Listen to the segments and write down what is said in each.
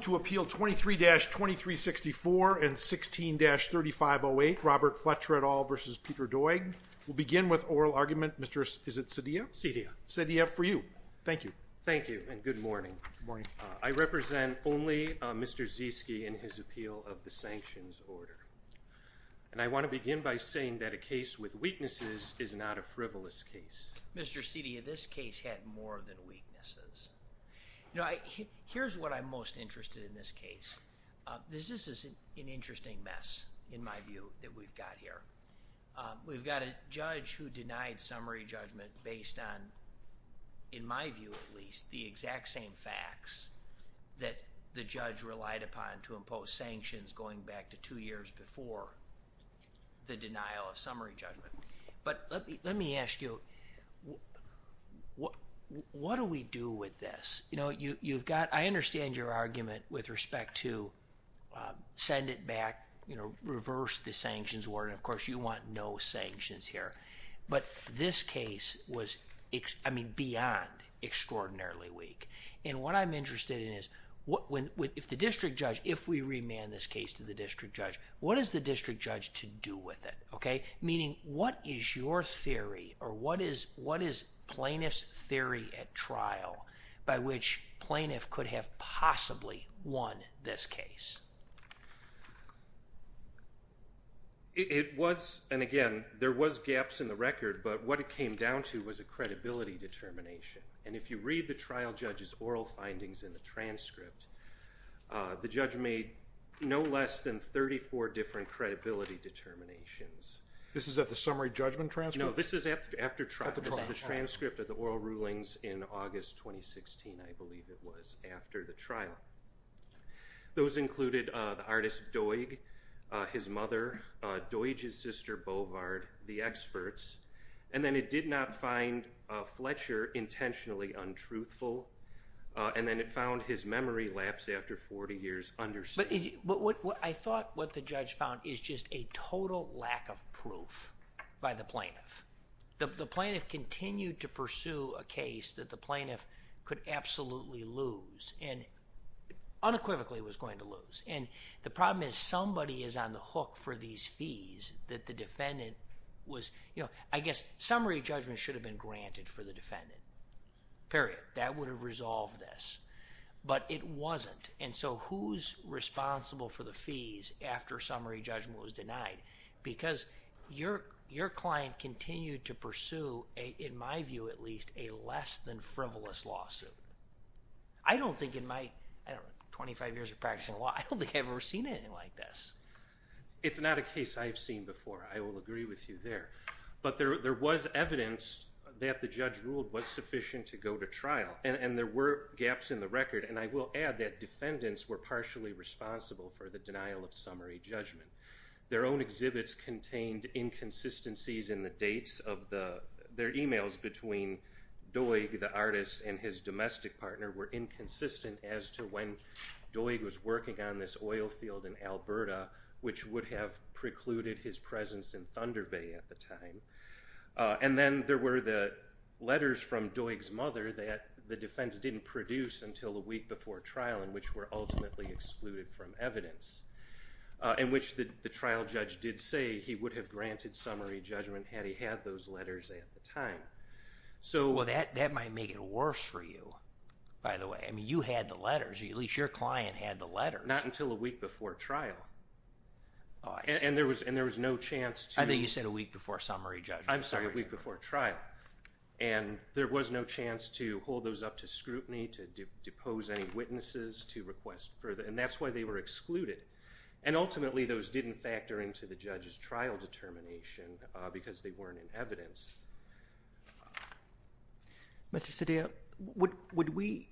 To appeal 23-2364 and 16-3508, Robert Fletcher et al. v. Peter Doig. We'll begin with oral argument. Mr. is it Cedilla? Cedilla. Cedilla for you. Thank you. Thank you and good morning. I represent only Mr. Zieske in his appeal of the sanctions order. And I want to begin by saying that a case with weaknesses is not a frivolous case. Mr. Cedilla, this case had more than weaknesses. You know, here's what I'm most interested in this case. This is an interesting mess in my view that we've got here. We've got a judge who denied summary judgment based on, in my view at least, the exact same facts that the judge relied upon to impose sanctions going back to two years before the denial of summary judgment. But let me ask you, what do we do with this? You know, you've got, I understand your argument with respect to send it back, you know, reverse the sanctions order. Of course, you want no sanctions here. But this case was, I mean, beyond extraordinarily weak. And what I'm interested in is, if the district judge, if we remand this case to the district judge, what is the district judge to do with it? Okay? Meaning, what is your theory or what is plaintiff's theory at trial by which plaintiff could have possibly won this case? It was, and again, there was gaps in the record, but what it came down to was a credibility determination. And if you read the trial judge's oral findings in the transcript, the judge made no less than 34 different credibility determinations. This is at the summary judgment transcript? No, this is after trial. The transcript of the oral rulings in August 2016, I believe it was, after the trial. Those included the artist, Doig, his mother, Doig's sister, Bovard, the experts. And then it did not find Fletcher intentionally untruthful. And then it found his memory lapsed after 40 years understated. I thought what the judge found is just a total lack of proof by the plaintiff. The plaintiff continued to pursue a case that the plaintiff could absolutely lose, and unequivocally was going to lose. And the problem is somebody is on the hook for these fees that the defendant was, you know, I guess summary judgment should have been granted for the defendant, period. That would have resolved this. But it wasn't. And so who's responsible for the fees after summary judgment was denied? Because your client continued to pursue, in my view at least, a less than frivolous lawsuit. I don't think in my, I don't know, 25 years of practicing law, I don't think I've ever seen anything like this. It's not a case I've seen before. I will agree with you there. But there was evidence that the judge ruled was sufficient to go to trial. And there were gaps in the record. And I will add that defendants were partially responsible for the denial of summary judgment. Their own exhibits contained inconsistencies in the dates of the, their emails between Doig, the artist and his domestic partner were inconsistent as to when Doig was working on this oil field in Alberta, which would have precluded his presence in Thunder Bay at the time. And then there were the letters from Doig's mother that the defense didn't produce until a week before trial in which were ultimately excluded from evidence. In which the trial judge did say he would have granted summary judgment had he had those letters at the time. So that might make it worse for you, by the way. I mean, you had the letters. At least your client had the letters. Not until a week before trial. And there was no chance to... I thought you said a week before summary judgment. I'm sorry, a week before trial. And there was no chance to hold those up to scrutiny, to depose any witnesses, to request further. And that's why they were excluded. And ultimately those didn't factor into the judge's trial determination because they weren't in evidence. Mr. Cedillo, would we,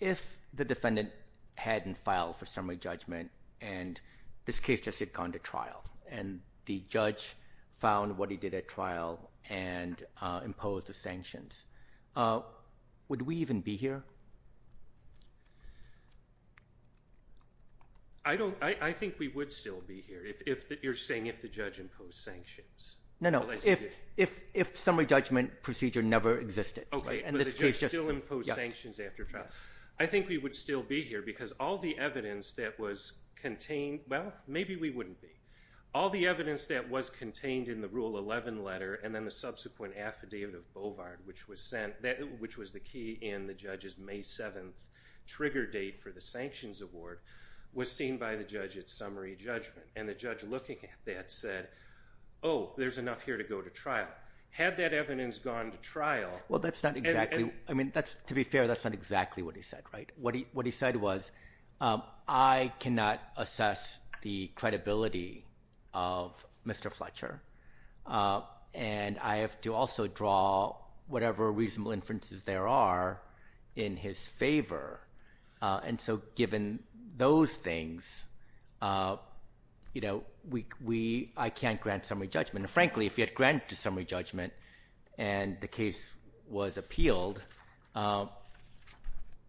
if the defendant hadn't filed for summary judgment and this case just what he did at trial and imposed the sanctions, would we even be here? I don't... I think we would still be here if... You're saying if the judge imposed sanctions. No, no. If summary judgment procedure never existed. Okay, but the judge still imposed sanctions after trial. I think we would still be here because all the evidence that was contained... Well, maybe we wouldn't be. All the evidence that was contained in the Rule 11 letter and then the subsequent affidavit of Bovard, which was the key in the judge's May 7th trigger date for the sanctions award, was seen by the judge at summary judgment. And the judge looking at that said, oh, there's enough here to go to trial. Had that evidence gone to trial... Well, that's not exactly... I mean, to be fair, that's not exactly what he said, right? What he said was, I cannot assess the credibility of Mr. Fletcher, and I have to also draw whatever reasonable inferences there are in his favor. And so given those things, I can't grant summary judgment. Frankly, if you had granted summary judgment and the case was appealed, I'm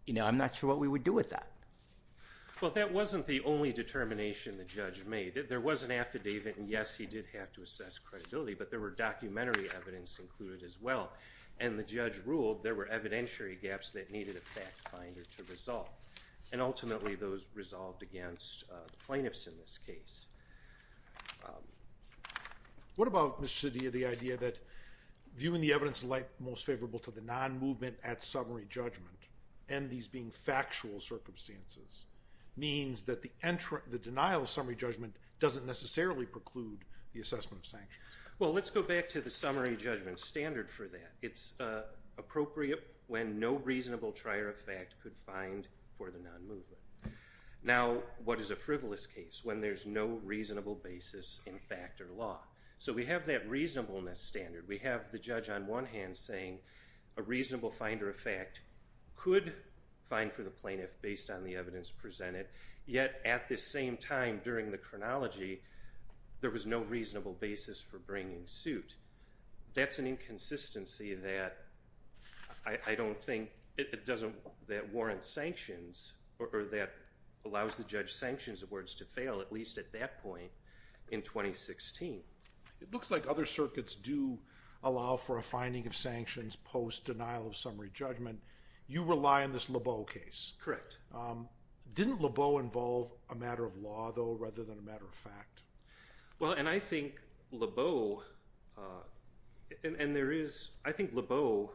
not sure what we would do with that. Well, that wasn't the only determination the judge made. There was an affidavit, and yes, he did have to assess credibility, but there were documentary evidence included as well. And the judge ruled there were evidentiary gaps that needed a fact finder to resolve. And ultimately, those resolved against plaintiffs in this case. What about, Mr. Cedillo, the idea that viewing the evidence in light most favorable to the non-movement at summary judgment, and these being factual circumstances, means that the denial of summary judgment doesn't necessarily preclude the assessment of sanctions? Well, let's go back to the summary judgment standard for that. It's appropriate when no reasonable trier of fact could find for the non-movement. Now, what is a frivolous case when there's no reasonable basis in fact or law? So we have that reasonableness standard. We have the judge on one hand saying, a reasonable find for the plaintiff based on the evidence presented. Yet, at the same time during the chronology, there was no reasonable basis for bringing suit. That's an inconsistency that I don't think, it doesn't, that warrants sanctions, or that allows the judge sanctions awards to fail, at least at that point in 2016. It looks like other circuits do allow for a finding of sanctions post-denial of summary judgment. You rely on this Lebeau case. Correct. Didn't Lebeau involve a matter of law, though, rather than a matter of fact? Well, and I think Lebeau, and there is, I think Lebeau,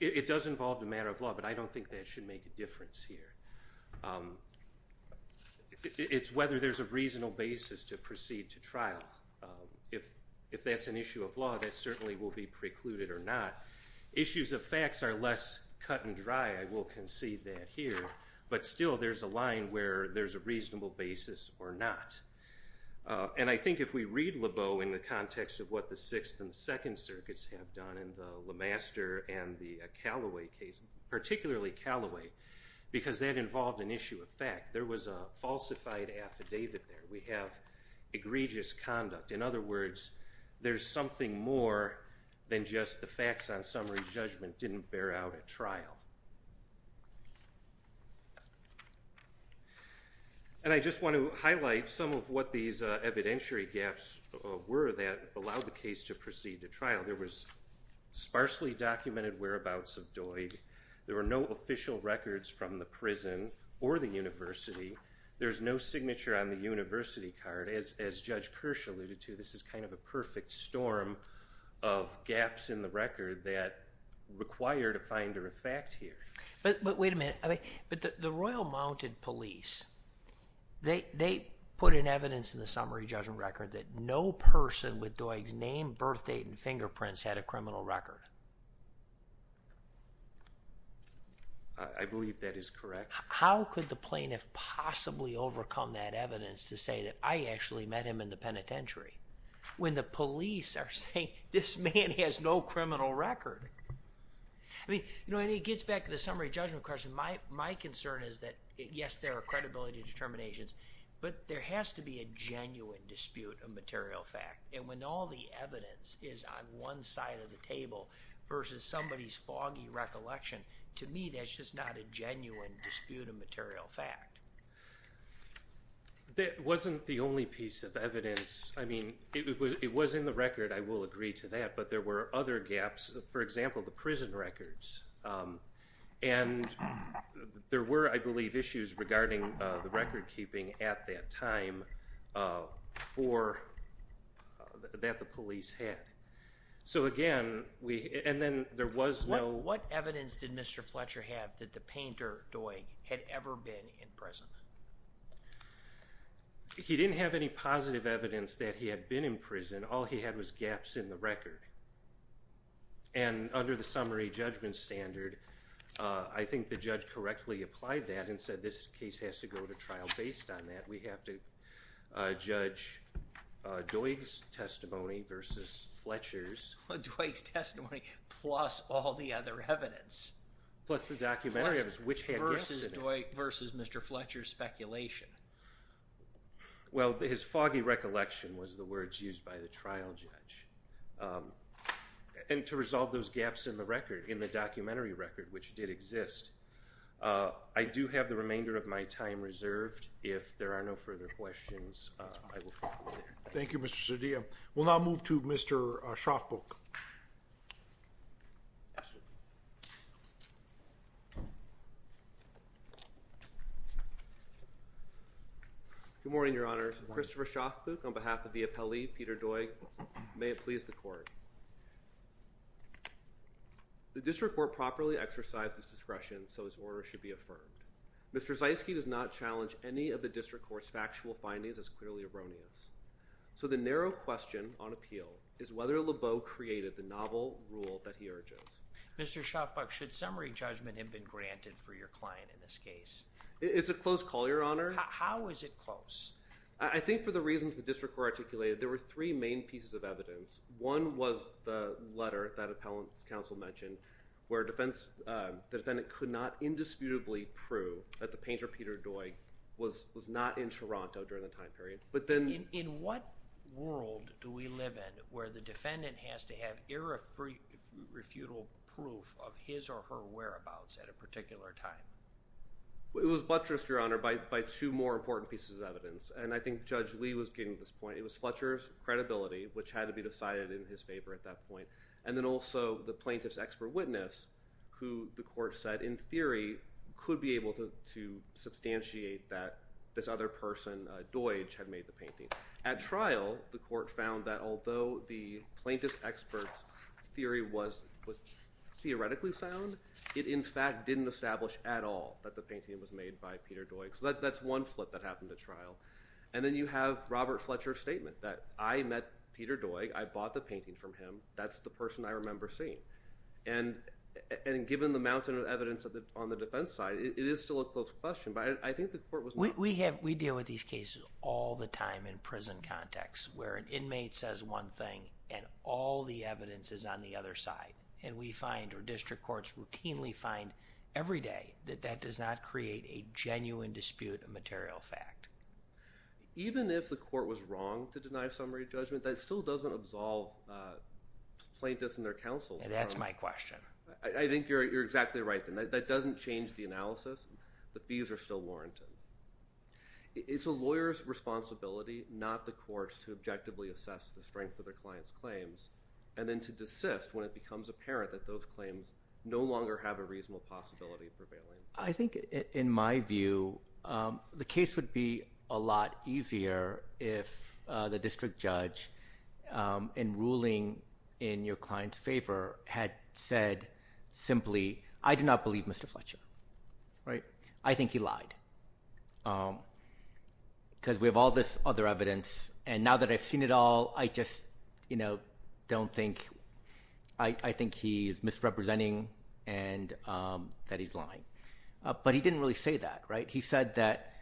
it does involve a matter of law, but I don't think that should make a difference here. It's whether there's a reasonable basis to proceed to trial. If that's an issue of law, that certainly will be precluded or not. Issues of facts are less cut and dry, I will concede that here, but still there's a line where there's a reasonable basis or not. And I think if we read Lebeau in the context of what the Sixth and Second Circuits have done, and the LeMaster and the Callaway case, particularly Callaway, because that involved an issue of fact. There was a falsified affidavit there. We have egregious conduct. In other words, there's something more than just the facts on summary judgment didn't bear out at trial. And I just want to highlight some of what these evidentiary gaps were that allowed the case to proceed to trial. There was sparsely documented whereabouts of Doid. There were no official records from the prison or the university. There's no signature on the university card. As Judge Kirsch alluded to, this is kind of a perfect storm of gaps in the record that required a finder of fact here. But wait a minute. The Royal Mounted Police, they put in evidence in the summary judgment record that no person with Doig's name, birthdate, and fingerprints had a criminal record. I believe that is correct. How could the plaintiff possibly overcome that evidence to say that I actually met him in the penitentiary when the police are saying this man has no criminal record? I mean, you know, and it gets back to the summary judgment question. My concern is that, yes, there are credibility determinations, but there has to be a genuine dispute of material fact. And when all the evidence is on one side of the table versus somebody's foggy recollection, to me, that's just not a genuine dispute of material fact. That wasn't the only piece of evidence. I mean, it was in the record. I will agree to that. But there were other gaps. For example, the prison records. And there were, I believe, issues regarding the record keeping at that time that the police had. So again, and then there was no... What evidence did Mr. Fletcher have that the painter, Doig, had ever been in prison? He didn't have any positive evidence that he had been in prison. All he had was gaps in the record. And under the summary judgment standard, I think the judge correctly applied that and said this case has to go to trial based on that. We have to judge Doig's testimony versus Fletcher's. Well, Doig's testimony plus all the other evidence. Plus the documentary evidence, which had gaps in it. Versus Mr. Fletcher's speculation. Well, his foggy recollection was the words used by the trial judge. And to resolve those I do have the remainder of my time reserved. If there are no further questions, I will call you later. Thank you, Mr. Cedilla. We'll now move to Mr. Schaafboek. Good morning, Your Honor. Christopher Schaafboek on behalf of the appellee, Peter Doig. May it please the court. The district court properly exercised its discretion, so its order should be affirmed. Mr. Zeiske does not challenge any of the district court's factual findings as clearly erroneous. So the narrow question on appeal is whether Lebeau created the novel rule that he urges. Mr. Schaafboek, should summary judgment have been granted for your client in this case? It's a close call, Your Honor. How is it close? I think for the reasons the district court articulated, there were three main pieces of evidence. One was the letter that appellant's counsel mentioned, where the defendant could not indisputably prove that the painter Peter Doig was not in Toronto during the time period. In what world do we live in where the defendant has to have irrefutable proof of his or her whereabouts at a particular time? It was buttressed, Your Honor, by two more important pieces of evidence. And I think Judge Lee was getting to this point. It was Fletcher's credibility, which had to be decided in his favor at that point. And then also the plaintiff's expert witness, who the court has said, in theory, could be able to substantiate that this other person, Doig, had made the painting. At trial, the court found that although the plaintiff's expert's theory was theoretically sound, it in fact didn't establish at all that the painting was made by Peter Doig. So that's one flip that happened at trial. And then you have Robert Fletcher's statement that I met Peter Doig. I bought the painting from him. That's the person I remember seeing. And given the mountain of evidence on the defense side, it is still a close question. But I think the court was not... We deal with these cases all the time in prison context, where an inmate says one thing and all the evidence is on the other side. And we find, or district courts routinely find every day, that that does not create a genuine dispute of material fact. Even if the court was wrong to deny summary judgment, that still doesn't absolve plaintiffs and their counsel. And that's my question. I think you're exactly right. That doesn't change the analysis. The fees are still warranted. It's a lawyer's responsibility, not the court's, to objectively assess the strength of the client's claims, and then to desist when it becomes apparent that those claims no longer have a reasonable possibility of prevailing. I think, in my view, the case would be a lot easier if the district judge, in ruling in your client's favor, had said simply, I do not believe Mr. Fletcher. I think he lied. Because we have all this other evidence, and now that I've seen it all, I just don't think... I think he is misrepresenting and that he's lying. But he didn't really say that. He said that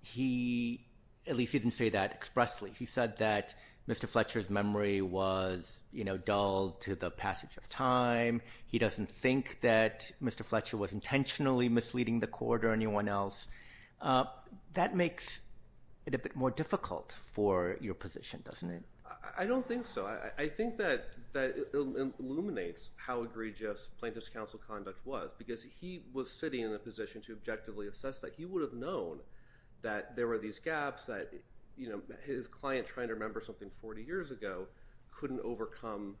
he... At least he didn't say that expressly. He said that Mr. Fletcher's memory was dull to the passage of time. He doesn't think that Mr. Fletcher was intentionally misleading the court or anyone else. That makes it a bit more difficult for your position, doesn't it? I don't think so. I think that it illuminates how egregious plaintiff's counsel conduct was, because he was sitting in a position to objectively assess that. He would have known that there were these gaps, that his client trying to remember something 40 years ago couldn't overcome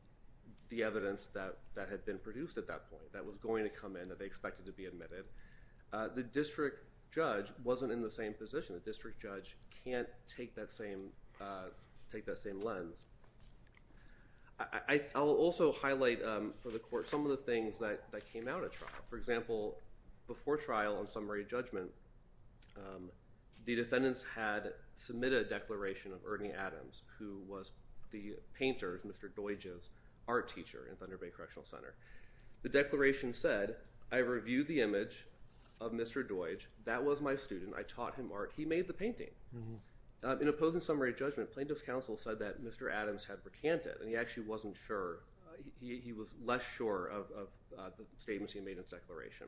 the evidence that had been produced at that point, that was going to come in, that they expected to be admitted. The district judge wasn't in the same position. The district judge can't take that same lens. I'll also highlight for the court some of the things that came out at trial. For example, before trial on summary judgment, the defendants had submitted a declaration of Ernie Adams, who was the painter, Mr. Doidge's art teacher in Thunder Bay Correctional Center. The declaration said, I reviewed the image of Mr. Doidge. That was my student. I taught him art. He made the painting. In opposing summary judgment, plaintiff's counsel said that Mr. Adams had rejected his declaration.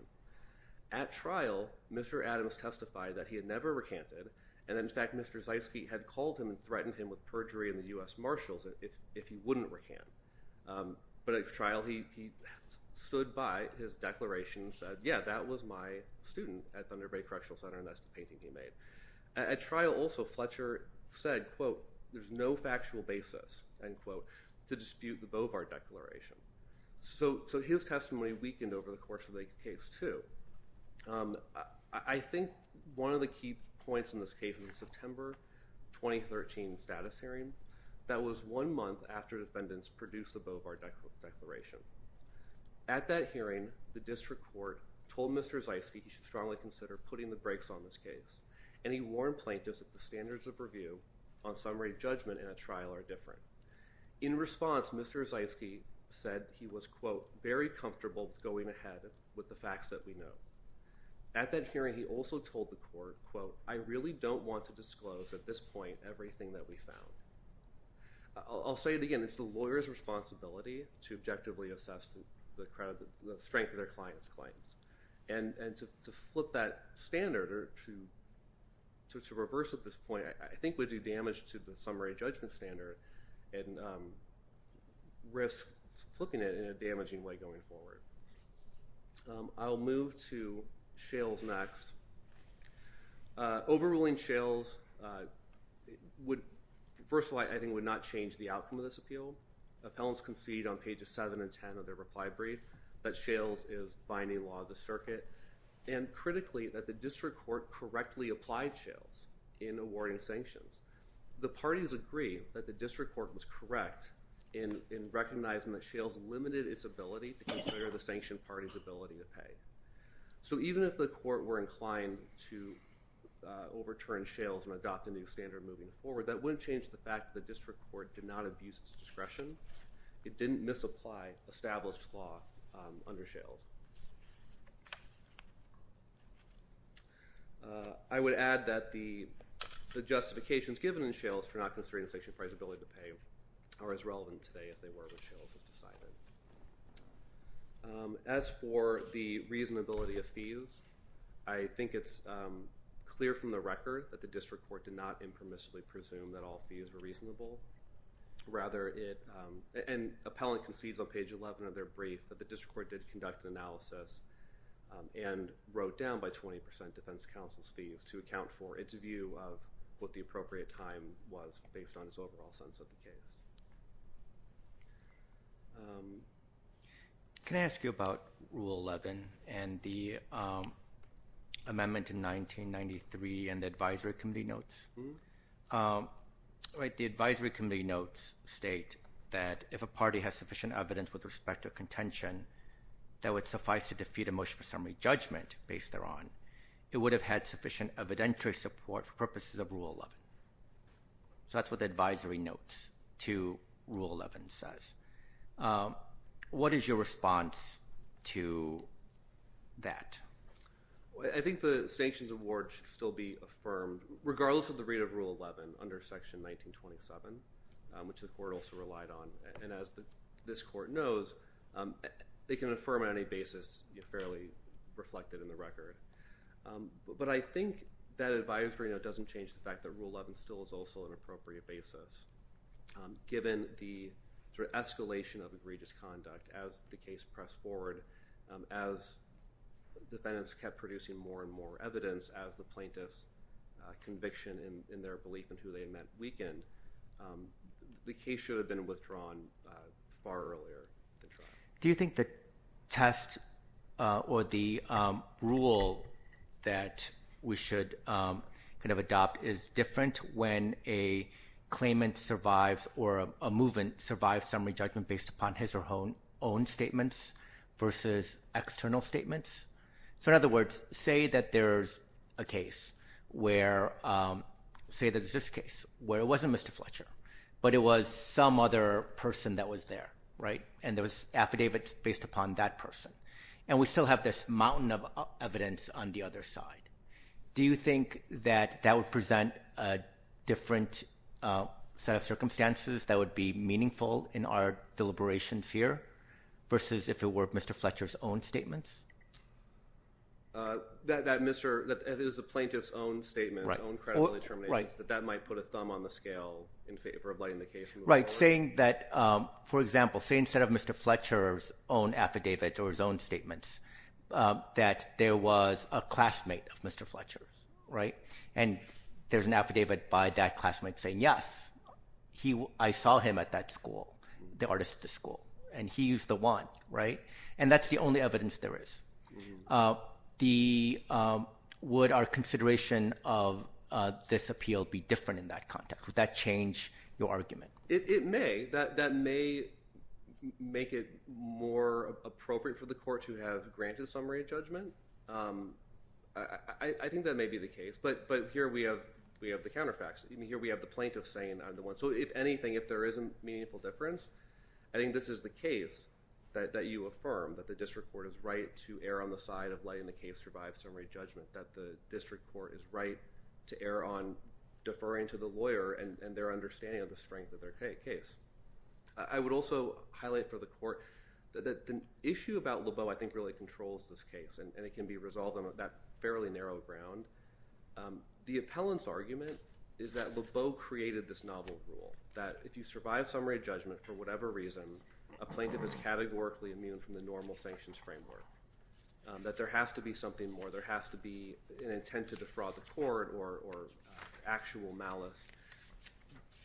At trial, Mr. Adams testified that he had never recanted, and in fact, Mr. Zeitsky had called him and threatened him with perjury in the U.S. Marshals if he wouldn't recant. At trial, he stood by his declaration and said, yeah, that was my student at Thunder Bay Correctional Center, and that's the painting he made. At trial also, Fletcher said, quote, there's no factual basis, end quote, to dispute the Beauvard Declaration. So his testimony weakened over the course of the case, too. I think one of the key points in this case is the September 2013 status hearing. That was one month after defendants produced the Beauvard Declaration. At that hearing, the district court told Mr. Zeitsky he should strongly consider putting the brakes on this case, and he warned plaintiffs that the standards of review on summary judgment in a trial are different. In response, Mr. Zeitsky said he was, quote, very comfortable with going ahead with the facts that we know. At that hearing, he also told the court, quote, I really don't want to disclose at this point everything that we found. I'll say it again. It's the lawyer's responsibility to objectively assess the strength of their client's claims, and to flip that standard or to reverse at this point, I think would do damage to the summary judgment standard, and risk flipping it in a damaging way going forward. I'll move to Shales next. Overruling Shales, first of all, I think would not change the outcome of this appeal. Appellants concede on pages 7 and 10 of their reply brief that Shales is binding law of the circuit, and awarding sanctions. The parties agree that the district court was correct in recognizing that Shales limited its ability to consider the sanctioned party's ability to pay. So even if the court were inclined to overturn Shales and adopt a new standard moving forward, that wouldn't change the fact that the district court did not abuse its discretion. It didn't misapply established law under Shales. I would add that the Shales case, which is the justification given in Shales for not considering the sanctioned party's ability to pay, are as relevant today as they were when Shales was decided. As for the reasonability of fees, I think it's clear from the record that the district court did not impermissibly presume that all fees were reasonable. Rather, and appellant concedes on page 11 of their brief, that the district court did conduct an analysis and wrote down by 20% defense counsel's fees to account for its view of what the appropriate time was based on its overall sense of the case. Can I ask you about Rule 11 and the amendment in 1993 in the advisory committee notes? The advisory committee notes state that if a party has sufficient evidence with respect to contention, that would suffice to defeat a motion for summary judgment based thereon, it would have had sufficient evidentiary support for purposes of Rule 11. That's what the advisory notes to Rule 11 says. What is your response to that? I think the sanctions award should still be affirmed, regardless of the rate of Rule 11 under Section 1927, which the court also relied on. As this court knows, they can affirm on any basis fairly reflected in the record. I think that advisory note doesn't change the fact that Rule 11 still is also an appropriate basis, given the escalation of egregious conduct as the case pressed forward, as defendants kept producing more and more evidence as the case progressed over the weekend. The case should have been withdrawn far earlier. Do you think the test or the rule that we should adopt is different when a claimant survives or a movement survives summary judgment based upon his or her own statements versus external statements? In other words, say that there's a case where, say there's this case where it wasn't Mr. Fletcher, but it was some other person that was there, and there was affidavits based upon that person, and we still have this mountain of evidence on the other side. Do you think that that would present a different set of circumstances that would be meaningful in our deliberations here versus if it were Mr. Fletcher's own statements? That is the plaintiff's own statements, own credible determinations, that that might put a thumb on the scale in favor of lighting the case we were working on? For example, say instead of Mr. Fletcher's own affidavits or his own statements, that there was a classmate of Mr. Fletcher's, and there's an affidavit by that classmate saying, yes, I saw him at that school, the artist at the school, and he used the wand. That's the only evidence there is. Would our consideration of this appeal be different in that context? Would that change your argument? It may. That may make it more appropriate for the court to have granted a summary of judgment. I think that may be the case, but here we have the counterfacts. Here we have the plaintiff saying I'm the one. So if anything, if there is a meaningful difference, I think this is the case that you affirm, that the district court is right to err on the side of letting the case survive summary judgment, that the district court is right to err on deferring to the lawyer and their understanding of the strength of their case. I would also highlight for the court that the issue about Lebeau, I think, really controls this case, and it can be resolved on that fairly narrow ground. The appellant's argument is that Lebeau created this novel rule, that if you survive summary judgment for whatever reason, a plaintiff is categorically immune from the normal sanctions framework, that there has to be something more, there has to be an intent to defraud the court or actual malice.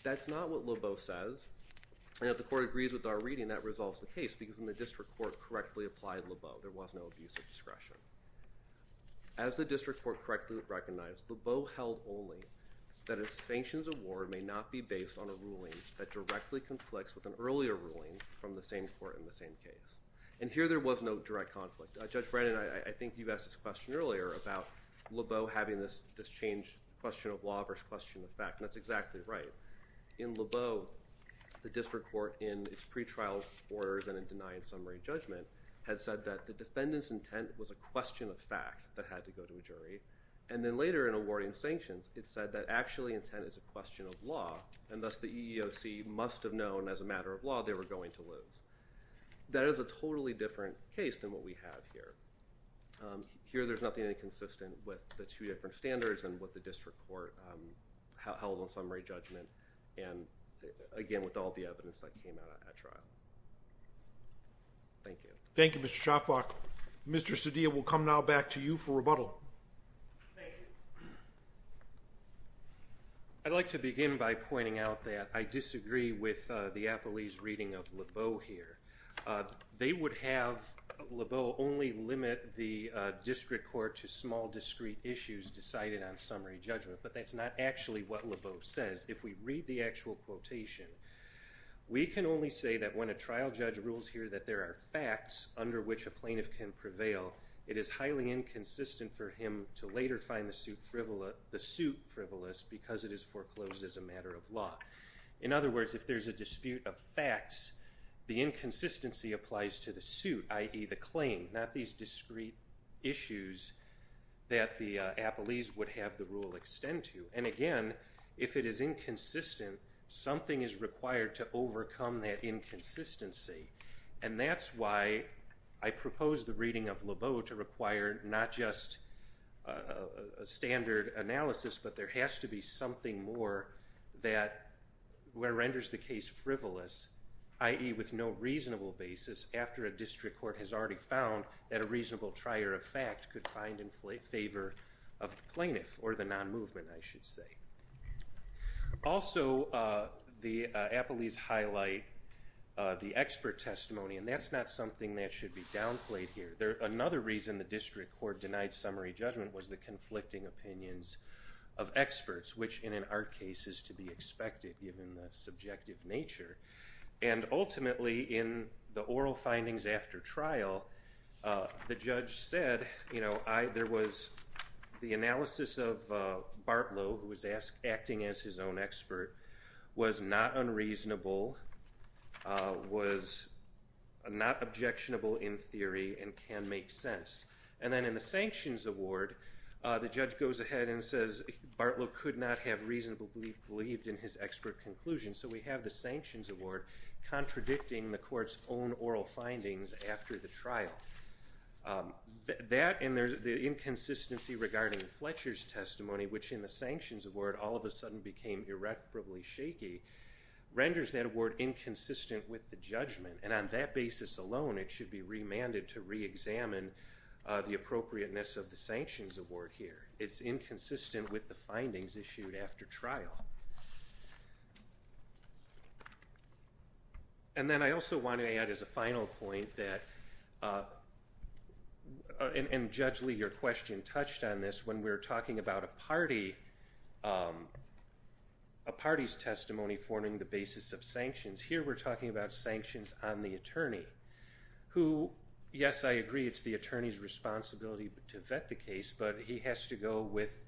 That's not what Lebeau says, and if the court agrees with our reading, that resolves the case, because when the district court correctly applied Lebeau, there was no abuse of discretion. As the district court correctly recognized, Lebeau held only that a sanctions award may not be based on a ruling that directly conflicts with an earlier ruling from the same court in the same case. And here there was no direct conflict. Judge Brennan, I think you asked this question earlier about Lebeau having this change, question of law versus question of fact, and that's exactly right. In Lebeau, the district court in its pretrial orders and in denying summary judgment had said that the defendant's intent was a question of fact that had to go to a jury, and then later in awarding sanctions, it said that actually intent is a question of law, and thus the EEOC must have known as a matter of law they were going to lose. That is a totally different case than what we have here. Here there's nothing inconsistent with the two different standards and what the district court held on summary judgment, and again with all the evidence that came out at trial. Thank you. Thank you, Mr. Schafbach. Mr. Cedillo will come now back to you for rebuttal. Thank you. I'd like to begin by pointing out that I disagree with the Applebee's reading of Lebeau here. They would have Lebeau only limit the district court to small discrete issues decided on summary judgment, but that's not actually what Lebeau says. If we read the actual quotation, we can only say that when a trial judge rules here that there are facts under which a plaintiff can prevail, it is highly inconsistent for him to later find the suit frivolous because it is foreclosed as a matter of law. In other words, if there's a dispute of facts, the inconsistency applies to the suit, i.e. the claim, not these discrete issues that the Applebee's would have the rule extend to. And again, if it is inconsistent, something is required to overcome that inconsistency. And that's why I propose the reading of Lebeau to require not just a standard analysis, but there has to be something more that renders the case frivolous, i.e. with no reasonable basis after a district court has already found that a reasonable trier of fact could find in favor of the plaintiff or the non-movement, I should say. Also, the Applebee's highlight the expert testimony, and that's not something that should be downplayed here. Another reason the district court denied summary judgment was the conflicting opinions of experts, which in an art case is to be expected given the The judge said, you know, there was the analysis of Bartlow, who was acting as his own expert, was not unreasonable, was not objectionable in theory, and can make sense. And then in the sanctions award, the judge goes ahead and says Bartlow could not have reasonably believed in his expert conclusion. So we have the sanctions award contradicting the court's own oral findings after the trial. That and the inconsistency regarding Fletcher's testimony, which in the sanctions award all of a sudden became irreparably shaky, renders that award inconsistent with the judgment. And on that basis alone, it should be remanded to reexamine the appropriateness of the sanctions award here. It's inconsistent with the findings And as a final point that, and Judge Lee, your question touched on this, when we're talking about a party's testimony forming the basis of sanctions, here we're talking about sanctions on the attorney, who, yes, I agree, it's the attorney's responsibility to vet the case, but he has to go with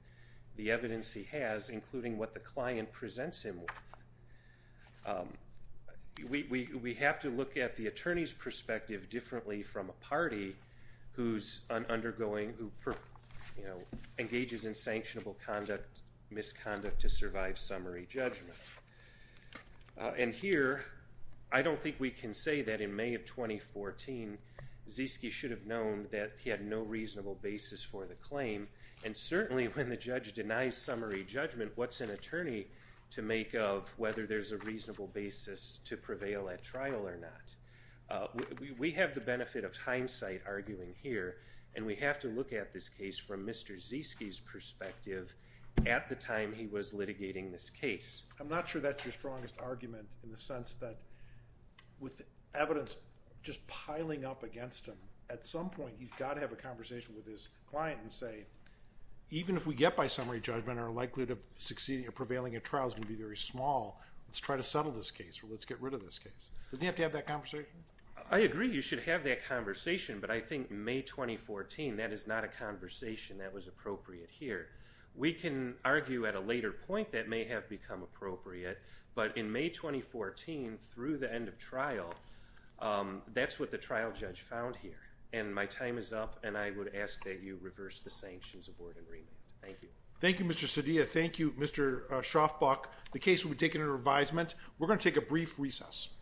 the evidence he has, including what the client attorney's perspective differently from a party who engages in sanctionable misconduct to survive summary judgment. And here, I don't think we can say that in May of 2014, Ziske should have known that he had no reasonable basis for the claim, and certainly when the judge denies summary judgment, what's an attorney to make of whether there's a reasonable basis to prevail at trial or not? We have the benefit of hindsight arguing here, and we have to look at this case from Mr. Ziske's perspective at the time he was litigating this case. I'm not sure that's your strongest argument in the sense that with evidence just piling up against him, at some point he's got to have a conversation with his client and say, even if we get by summary judgment, our likelihood of succeeding or prevailing at trial is going to be very small. Let's try to settle this case, or let's get rid of this case. Doesn't he have to have that conversation? I agree you should have that conversation, but I think May 2014, that is not a conversation that was appropriate here. We can argue at a later point that may have become appropriate, but in May 2014, through the end of trial, that's what the trial judge found here. And my time is up, and I would ask that you reverse the sanctions award agreement. Thank you. Thank you, Mr. Sedia. Thank you, Mr. Schaafbach. The case will be taken under advisement. We're going to take a brief recess.